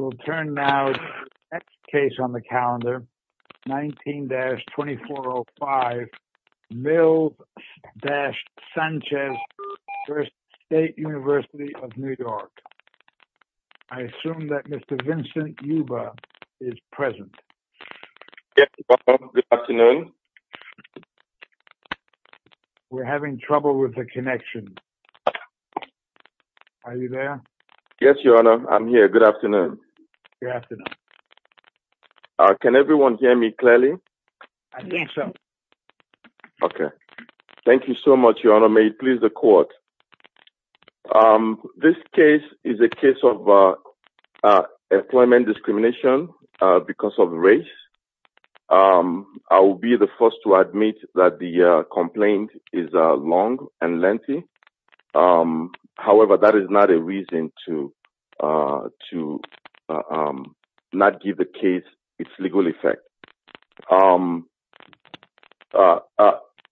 I will turn now to the next case on the calendar, 19-2405, Mills-Sanchez v. State University of New York. I assume that Mr. Vincent Yuba is present. Yes, Your Honor. Good afternoon. We're having trouble with the connection. Are you there? Yes, Your Honor. I'm here. Good afternoon. Good afternoon. Can everyone hear me clearly? Yes, Your Honor. Okay. Thank you so much, Your Honor. May it please the Court. This case is a case of employment discrimination because of race. I will be the first to admit that the complaint is long and lengthy. However, that is not a reason to not give the case its legal effect.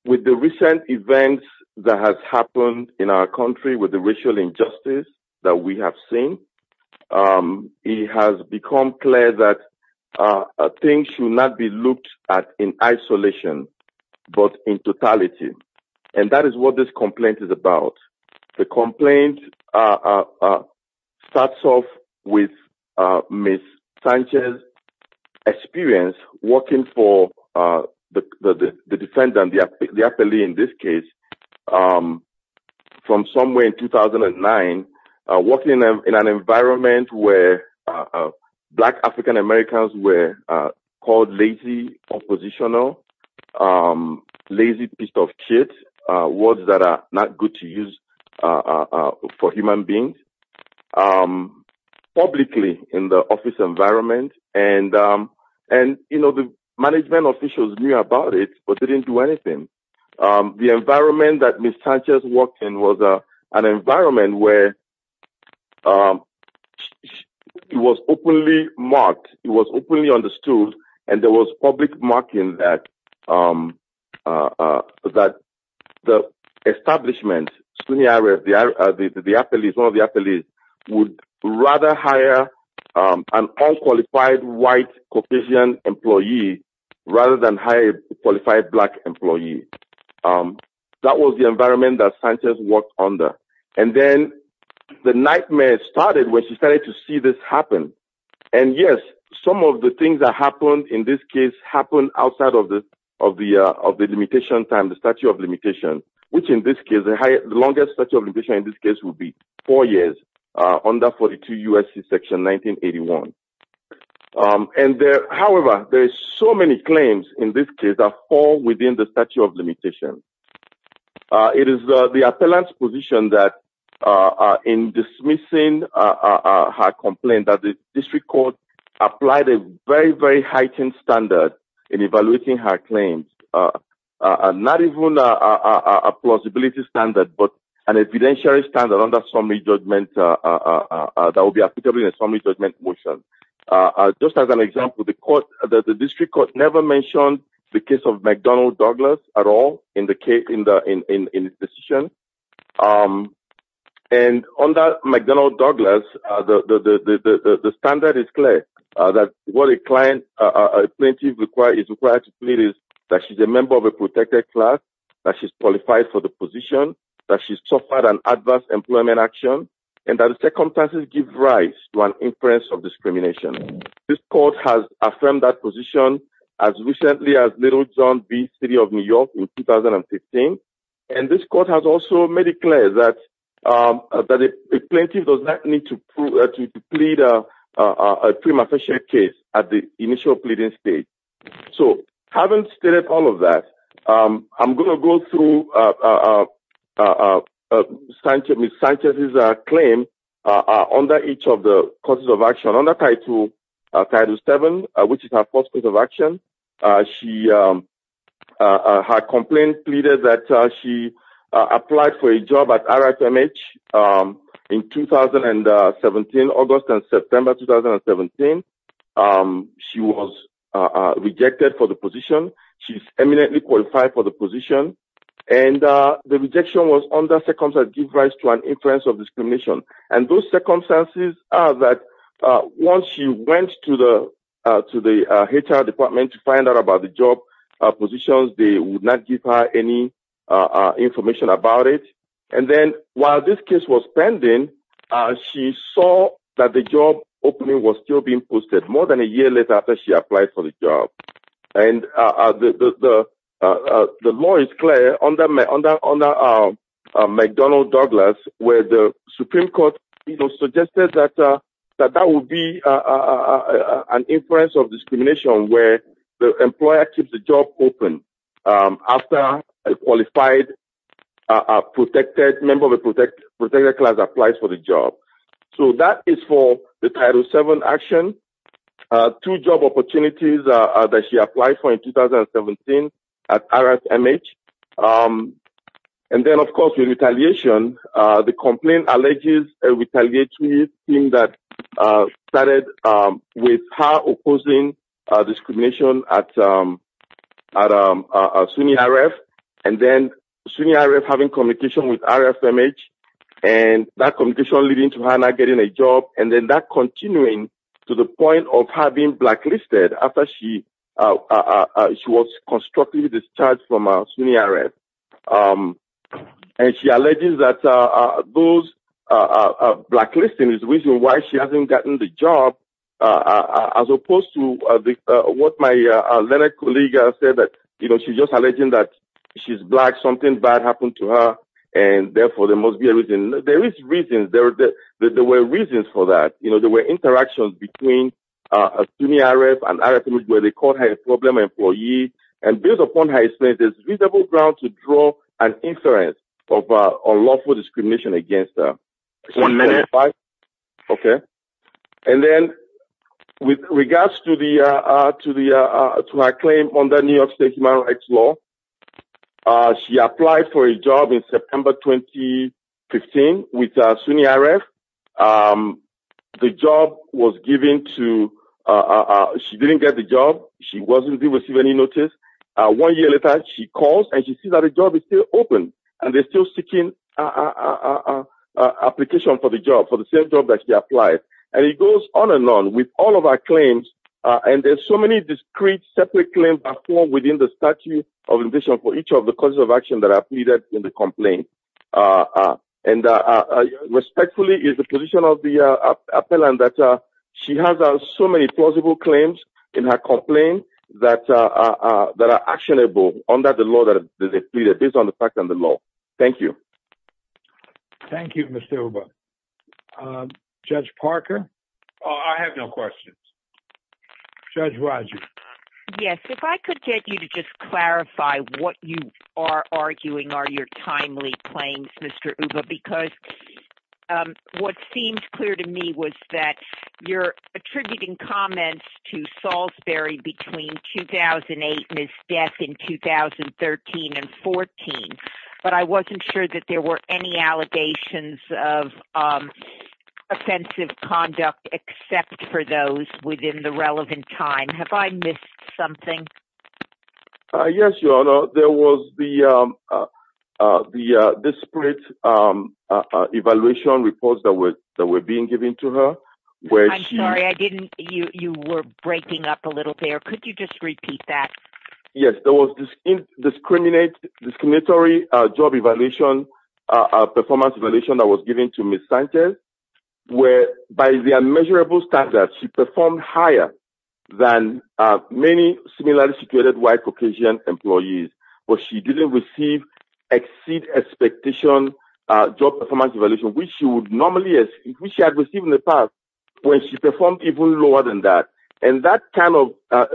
With the recent events that have happened in our country with the racial injustice that we have seen, it has become clear that things should not be looked at in isolation, but in totality. And that is what this complaint is about. The complaint starts off with Ms. Sanchez's experience working for the defendant, the appellee in this case, from somewhere in 2009, working in an environment where black African Americans were called lazy, oppositional, lazy piece of shit, words that are not good to use for human beings, publicly in the office environment. And, you know, the management officials knew about it, but they didn't do anything. The environment that Ms. Sanchez worked in was an environment where it was openly marked, it was openly understood, and there was public marking that the establishment, the appellees, one of the appellees, would rather hire an unqualified white Caucasian employee rather than hire a qualified black employee. That was the environment that Sanchez worked under. And then the nightmare started when she started to see this happen. And, yes, some of the things that happened in this case happened outside of the limitation time, the statute of limitations, which in this case, the longest statute of limitations in this case would be four years, under 42 U.S.C. Section 1981. However, there are so many claims in this case that fall within the statute of limitations. It is the appellant's position that in dismissing her complaint, that the district court applied a very, very heightened standard in evaluating her claims, not even a plausibility standard, but an evidentiary standard under summary judgment that would be applicable in a summary judgment motion. Just as an example, the district court never mentioned the case of McDonald-Douglas at all in its decision. And under McDonald-Douglas, the standard is clear that what a plaintiff is required to plead is that she's a member of a protected class, that she's qualified for the position, that she's suffered an adverse employment action, and that the circumstances give rise to an inference of discrimination. This court has affirmed that position as recently as Little John v. City of New York in 2015. And this court has also made it clear that a plaintiff does not need to plead a prima facie case at the initial pleading stage. So having stated all of that, I'm going to go through Ms. Sanchez's claim under each of the courses of action. Under Title VII, which is her first course of action, her complaint pleaded that she applied for a job at RFMH in August and September 2017. She was rejected for the position. She's eminently qualified for the position. And the rejection was under circumstances that give rise to an inference of discrimination. And those circumstances are that once she went to the HR department to find out about the job positions, they would not give her any information about it. And then while this case was pending, she saw that the job opening was still being posted more than a year later after she applied for the job. And the law is clear under McDonnell-Douglas, where the Supreme Court suggested that that would be an inference of discrimination, where the employer keeps the job open after a qualified member of the protected class applies for the job. So that is for the Title VII action. Two job opportunities that she applied for in 2017 at RFMH. And then, of course, with retaliation, the complaint alleges a retaliatory scheme that started with her opposing discrimination at SUNY-RF, and then SUNY-RF having communication with RFMH, and that communication leading to her not getting a job, and then that continuing to the point of her being blacklisted after she was constructively discharged from SUNY-RF. And she alleges that those blacklisting is the reason why she hasn't gotten the job, as opposed to what my other colleague said, that, you know, she's just alleging that she's black, something bad happened to her, and therefore there must be a reason. There is reason. There were reasons for that. You know, there were interactions between SUNY-RF and RFMH where they called her a problem employee, and based upon her experience, there's reasonable ground to draw an inference of lawful discrimination against her. One minute. Okay. And then, with regards to her claim under New York state human rights law, she applied for a job in September 2015 with SUNY-RF. The job was given to ‑‑ she didn't get the job. She wasn't to receive any notice. One year later, she calls, and she sees that the job is still open, and they're still seeking application for the job, for the same job that she applied. And it goes on and on with all of our claims, and there's so many discrete separate claims that fall within the statute of conditions for each of the causes of action that are pleaded in the complaint. And respectfully, it's the position of the appellant that she has so many plausible claims in her complaint that are actionable under the law that they pleaded, based on the fact and the law. Thank you. Thank you, Mr. Oba. Judge Parker? I have no questions. Judge Rodgers? Yes. If I could get you to just clarify what you are arguing are your timely claims, Mr. Oba, because what seems clear to me was that you're attributing comments to Salisbury between 2008 and his death in 2013 and 14, but I wasn't sure that there were any allegations of offensive conduct except for those within the relevant time. Have I missed something? Yes, Your Honor. There was the disparate evaluation reports that were being given to her. I'm sorry, you were breaking up a little there. Could you just repeat that? Yes, there was this discriminatory job evaluation, performance evaluation that was given to Ms. Sanchez, where by the immeasurable standards, she performed higher than many similarly situated white Caucasian employees, but she didn't receive exceed expectation job performance evaluation, which she had received in the past when she performed even lower than that. And that kind of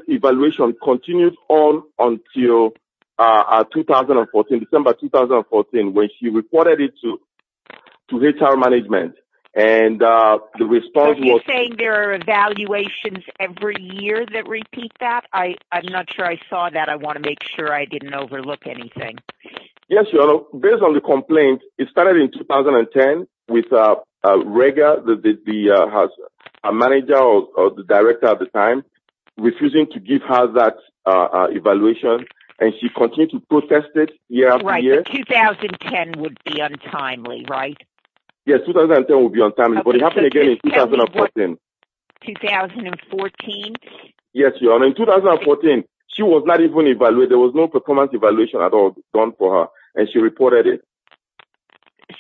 evaluation continued on until 2014, December 2014, when she reported it to HR management. And the response was – Are you saying there are evaluations every year that repeat that? I'm not sure I saw that. I want to make sure I didn't overlook anything. Yes, Your Honor. Based on the complaint, it started in 2010 with a manager or the director at the time refusing to give her that evaluation, and she continued to protest it year after year. Right. 2010 would be untimely, right? Yes, 2010 would be untimely, but it happened again in 2014. 2014? Yes, Your Honor. In 2014, she was not even evaluated. There was no performance evaluation at all done for her, and she reported it.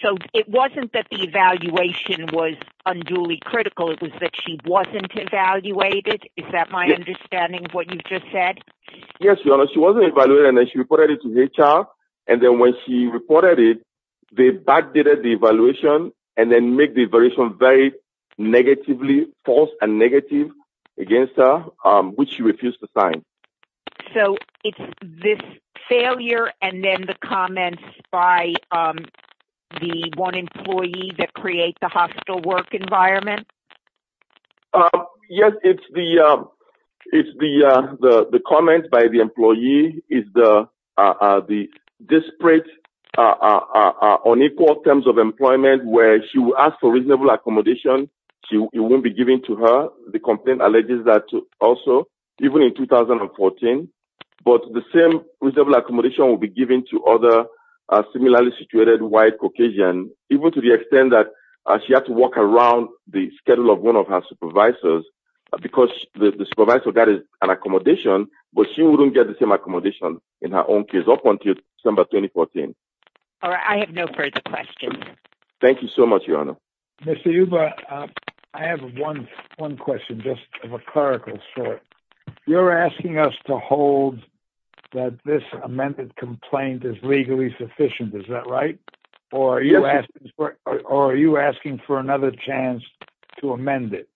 So it wasn't that the evaluation was unduly critical. It was that she wasn't evaluated. Is that my understanding of what you just said? Yes, Your Honor. She wasn't evaluated, and then she reported it to HR. And then when she reported it, they backdated the evaluation and then made the evaluation very negatively, false and negative against her, which she refused to sign. So it's this failure and then the comments by the one employee that creates the hostile work environment? Yes, it's the comments by the employee. It's the disparate, unequal terms of employment where she will ask for reasonable accommodation. It won't be given to her. The complaint alleges that also, even in 2014, but the same reasonable accommodation will be given to other similarly situated white Caucasians, even to the extent that she had to walk around the schedule of one of her supervisors because the supervisor got an accommodation, but she wouldn't get the same accommodation in her own case up until December 2014. All right. I have no further questions. Thank you so much, Your Honor. Mr. Yuba, I have one question, just of a clerical sort. You're asking us to hold that this amended complaint is legally sufficient. Is that right? Or are you asking for another chance to amend it?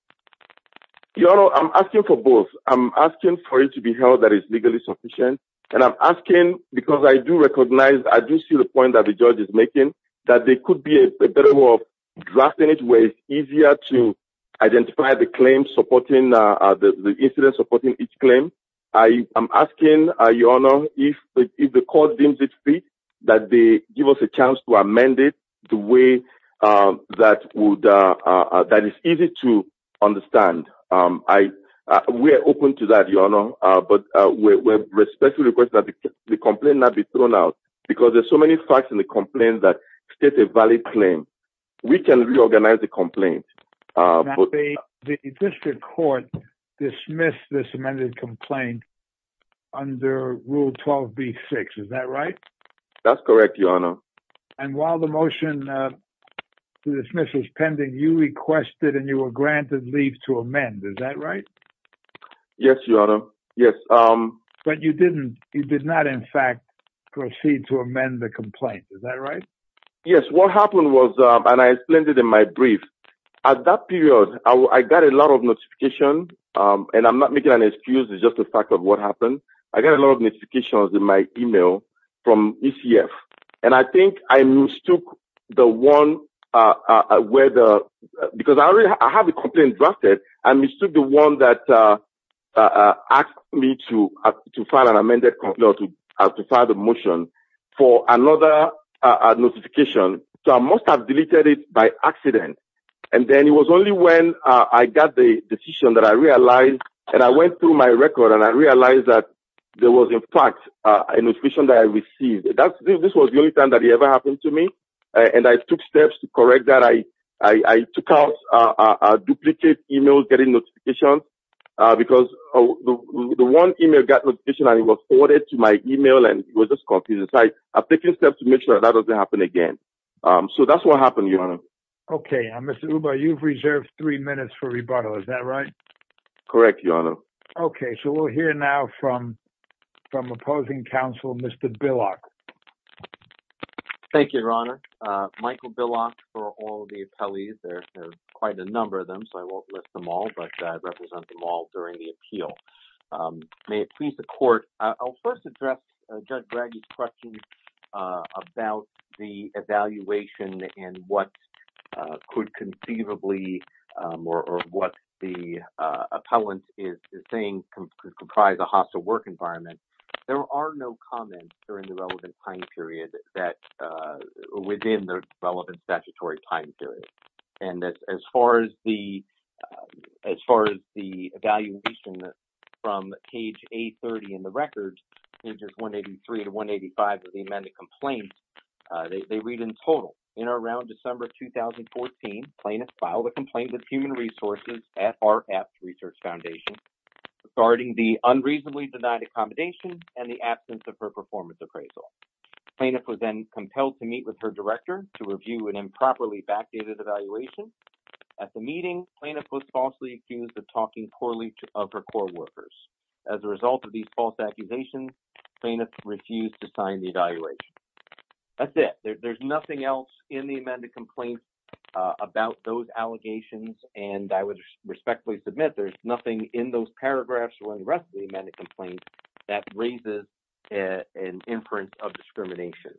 Your Honor, I'm asking for both. I'm asking for it to be held that it's legally sufficient, and I'm asking because I do recognize, I do see the point that the judge is making, that there could be a better way of drafting it where it's easier to identify the claim, supporting the incident, supporting each claim. I'm asking, Your Honor, if the court deems it fit that they give us a chance to amend it the way that is easy to understand. We are open to that, Your Honor. But we respectfully request that the complaint not be thrown out because there's so many facts in the complaint that state a valid claim. We can reorganize the complaint. The district court dismissed this amended complaint under Rule 12b-6. Is that right? That's correct, Your Honor. And while the motion to dismiss was pending, you requested and you were granted leave to amend. Is that right? Yes, Your Honor, yes. But you did not, in fact, proceed to amend the complaint. Is that right? Yes. What happened was, and I explained it in my brief, at that period, I got a lot of notification, and I'm not making an excuse. It's just a fact of what happened. I got a lot of notifications in my email from ECF, and I think I mistook the one where the – because I have the complaint drafted. I mistook the one that asked me to file an amended – no, to file the motion for another notification. So I must have deleted it by accident. And then it was only when I got the decision that I realized, and I went through my record, and I realized that there was, in fact, a notification that I received. This was the only time that it ever happened to me, and I took steps to correct that. I took out a duplicate email getting notification because the one email got notification and it was forwarded to my email, and it was just confusing. So I took steps to make sure that doesn't happen again. So that's what happened, Your Honor. Okay. Mr. Uba, you've reserved three minutes for rebuttal. Is that right? Correct, Your Honor. Okay. Thank you, Your Honor. Michael Billock for all the appellees. There are quite a number of them, so I won't list them all, but I represent them all during the appeal. May it please the Court, I'll first address Judge Braggy's question about the evaluation and what could conceivably – or what the appellant is saying could comprise a hostile work environment. There are no comments during the relevant time period that – within the relevant statutory time period. And as far as the evaluation from page A30 in the records, pages 183 to 185 of the amended complaint, they read in total. In or around December 2014, plaintiffs filed a complaint with Human Resources at our Apps Research Foundation, regarding the unreasonably denied accommodation and the absence of her performance appraisal. The plaintiff was then compelled to meet with her director to review an improperly backdated evaluation. At the meeting, the plaintiff was falsely accused of talking poorly of her core workers. As a result of these false accusations, the plaintiff refused to sign the evaluation. That's it. There's nothing else in the amended complaint about those allegations, and I would respectfully submit there's nothing in those paragraphs or in the rest of the amended complaint that raises an inference of discrimination.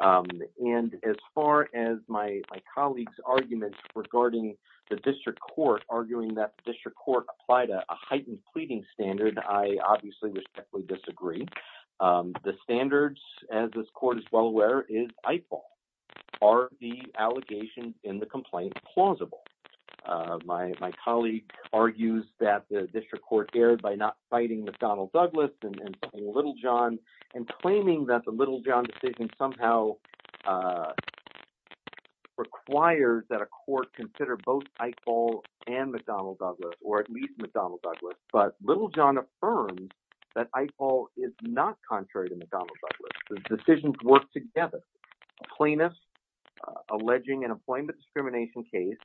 And as far as my colleague's arguments regarding the district court, arguing that the district court applied a heightened pleading standard, I obviously respectfully disagree. The standards, as this court is well aware, is Eiffel. Are the allegations in the complaint plausible? My colleague argues that the district court erred by not fighting McDonnell Douglas and Littlejohn, and claiming that the Littlejohn decision somehow requires that a court consider both Eiffel and McDonnell Douglas, or at least McDonnell Douglas. But Littlejohn affirms that Eiffel is not contrary to McDonnell Douglas. The decisions work together. A plaintiff alleging an employment discrimination case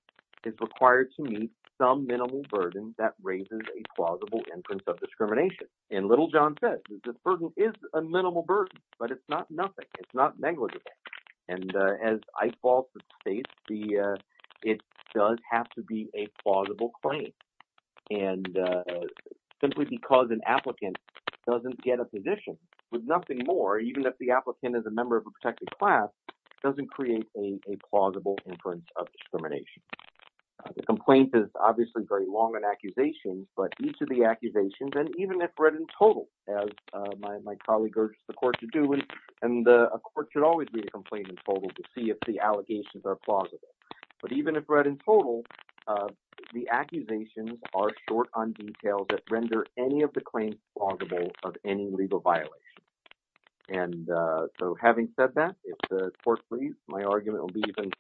is required to meet some minimal burden that raises a plausible inference of discrimination. And Littlejohn says this burden is a minimal burden, but it's not nothing. It's not negligible. And as Eiffel states, it does have to be a plausible claim. And simply because an applicant doesn't get a position with nothing more, even if the applicant is a member of a protected class, doesn't create a plausible inference of discrimination. The complaint is obviously very long an accusation, but each of the accusations, and even if read in total, as my colleague urges the court to do, and a court should always read a complaint in total to see if the allegations are plausible. But even if read in total, the accusations are short on detail that render any of the claims plausible of any legal violation. And so having said that, if the court please, my argument will be even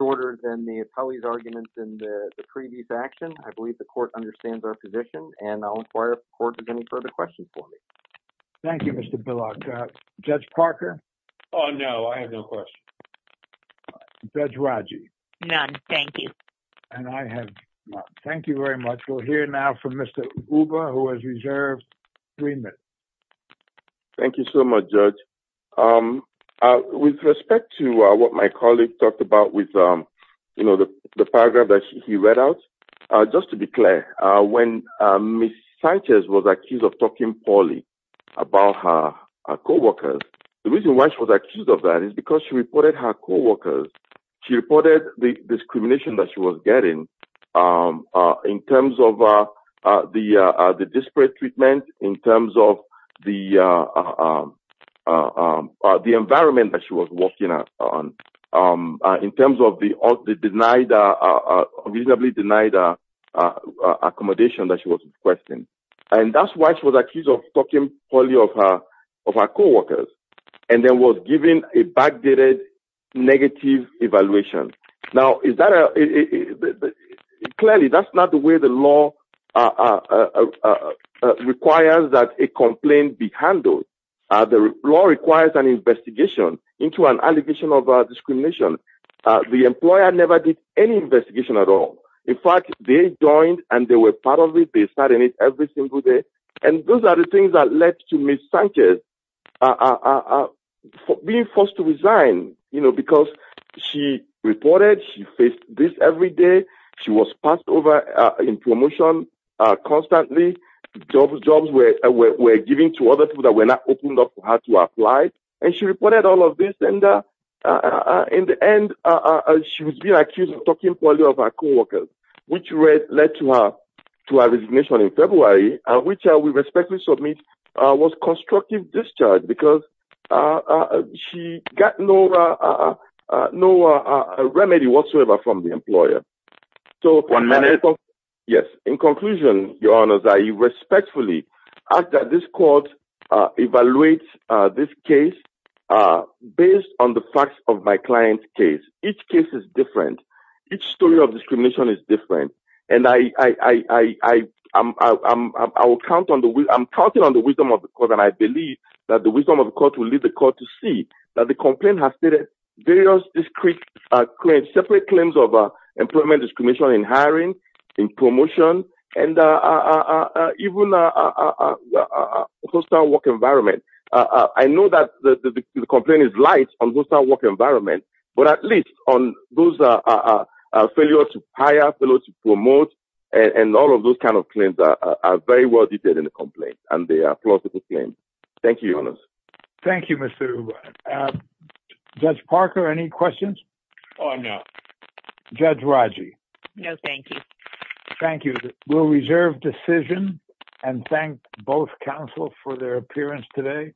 shorter than the attorney's arguments in the previous action. I believe the court understands our position, and I'll inquire if the court has any further questions for me. Thank you, Mr. Bullock. Judge Parker? Oh, no, I have no questions. Judge Raji? None, thank you. And I have none. Thank you very much. We'll hear now from Mr. Uber, who has reserved three minutes. Thank you so much, Judge. With respect to what my colleague talked about with, you know, the paragraph that he read out, just to be clear, when Ms. Sanchez was accused of talking poorly about her co-workers, the reason why she was accused of that is because she reported her co-workers. She reported the discrimination that she was getting in terms of the disparate treatment, in terms of the environment that she was working in, in terms of the reasonably denied accommodation that she was requesting. And that's why she was accused of talking poorly of her co-workers and then was given a backdated negative evaluation. Now, clearly, that's not the way the law requires that a complaint be handled. The law requires an investigation into an allegation of discrimination. The employer never did any investigation at all. In fact, they joined and they were part of it. They started it every single day. And those are the things that led to Ms. Sanchez being forced to resign, you know, because she reported, she faced this every day. She was passed over in promotion constantly. Jobs were given to other people that were not open up for her to apply. And she reported all of this. In the end, she was being accused of talking poorly of her co-workers, which led to her resignation in February, which we respectfully submit was constructive discharge because she got no remedy whatsoever from the employer. One minute. Yes. In conclusion, Your Honor, I respectfully ask that this court evaluate this case based on the facts of my client's case. Each case is different. Each story of discrimination is different. And I, I, I, I, I, I will count on the I'm counting on the wisdom of the court. And I believe that the wisdom of the court will lead the court to see that the complaint has various discrete claims, separate claims of employment, discrimination in hiring, in promotion, and even a hostile work environment. I know that the complaint is light on hostile work environment, but at least on those are failure to hire, fail to promote. And all of those kind of claims are very well detailed in the complaint. And they are plausible claims. Thank you, Your Honor. Thank you, Mr. Huber. Judge Parker, any questions? Oh, no. Judge Raji? No, thank you. Thank you. We'll reserve decision and thank both counsel for their appearance today.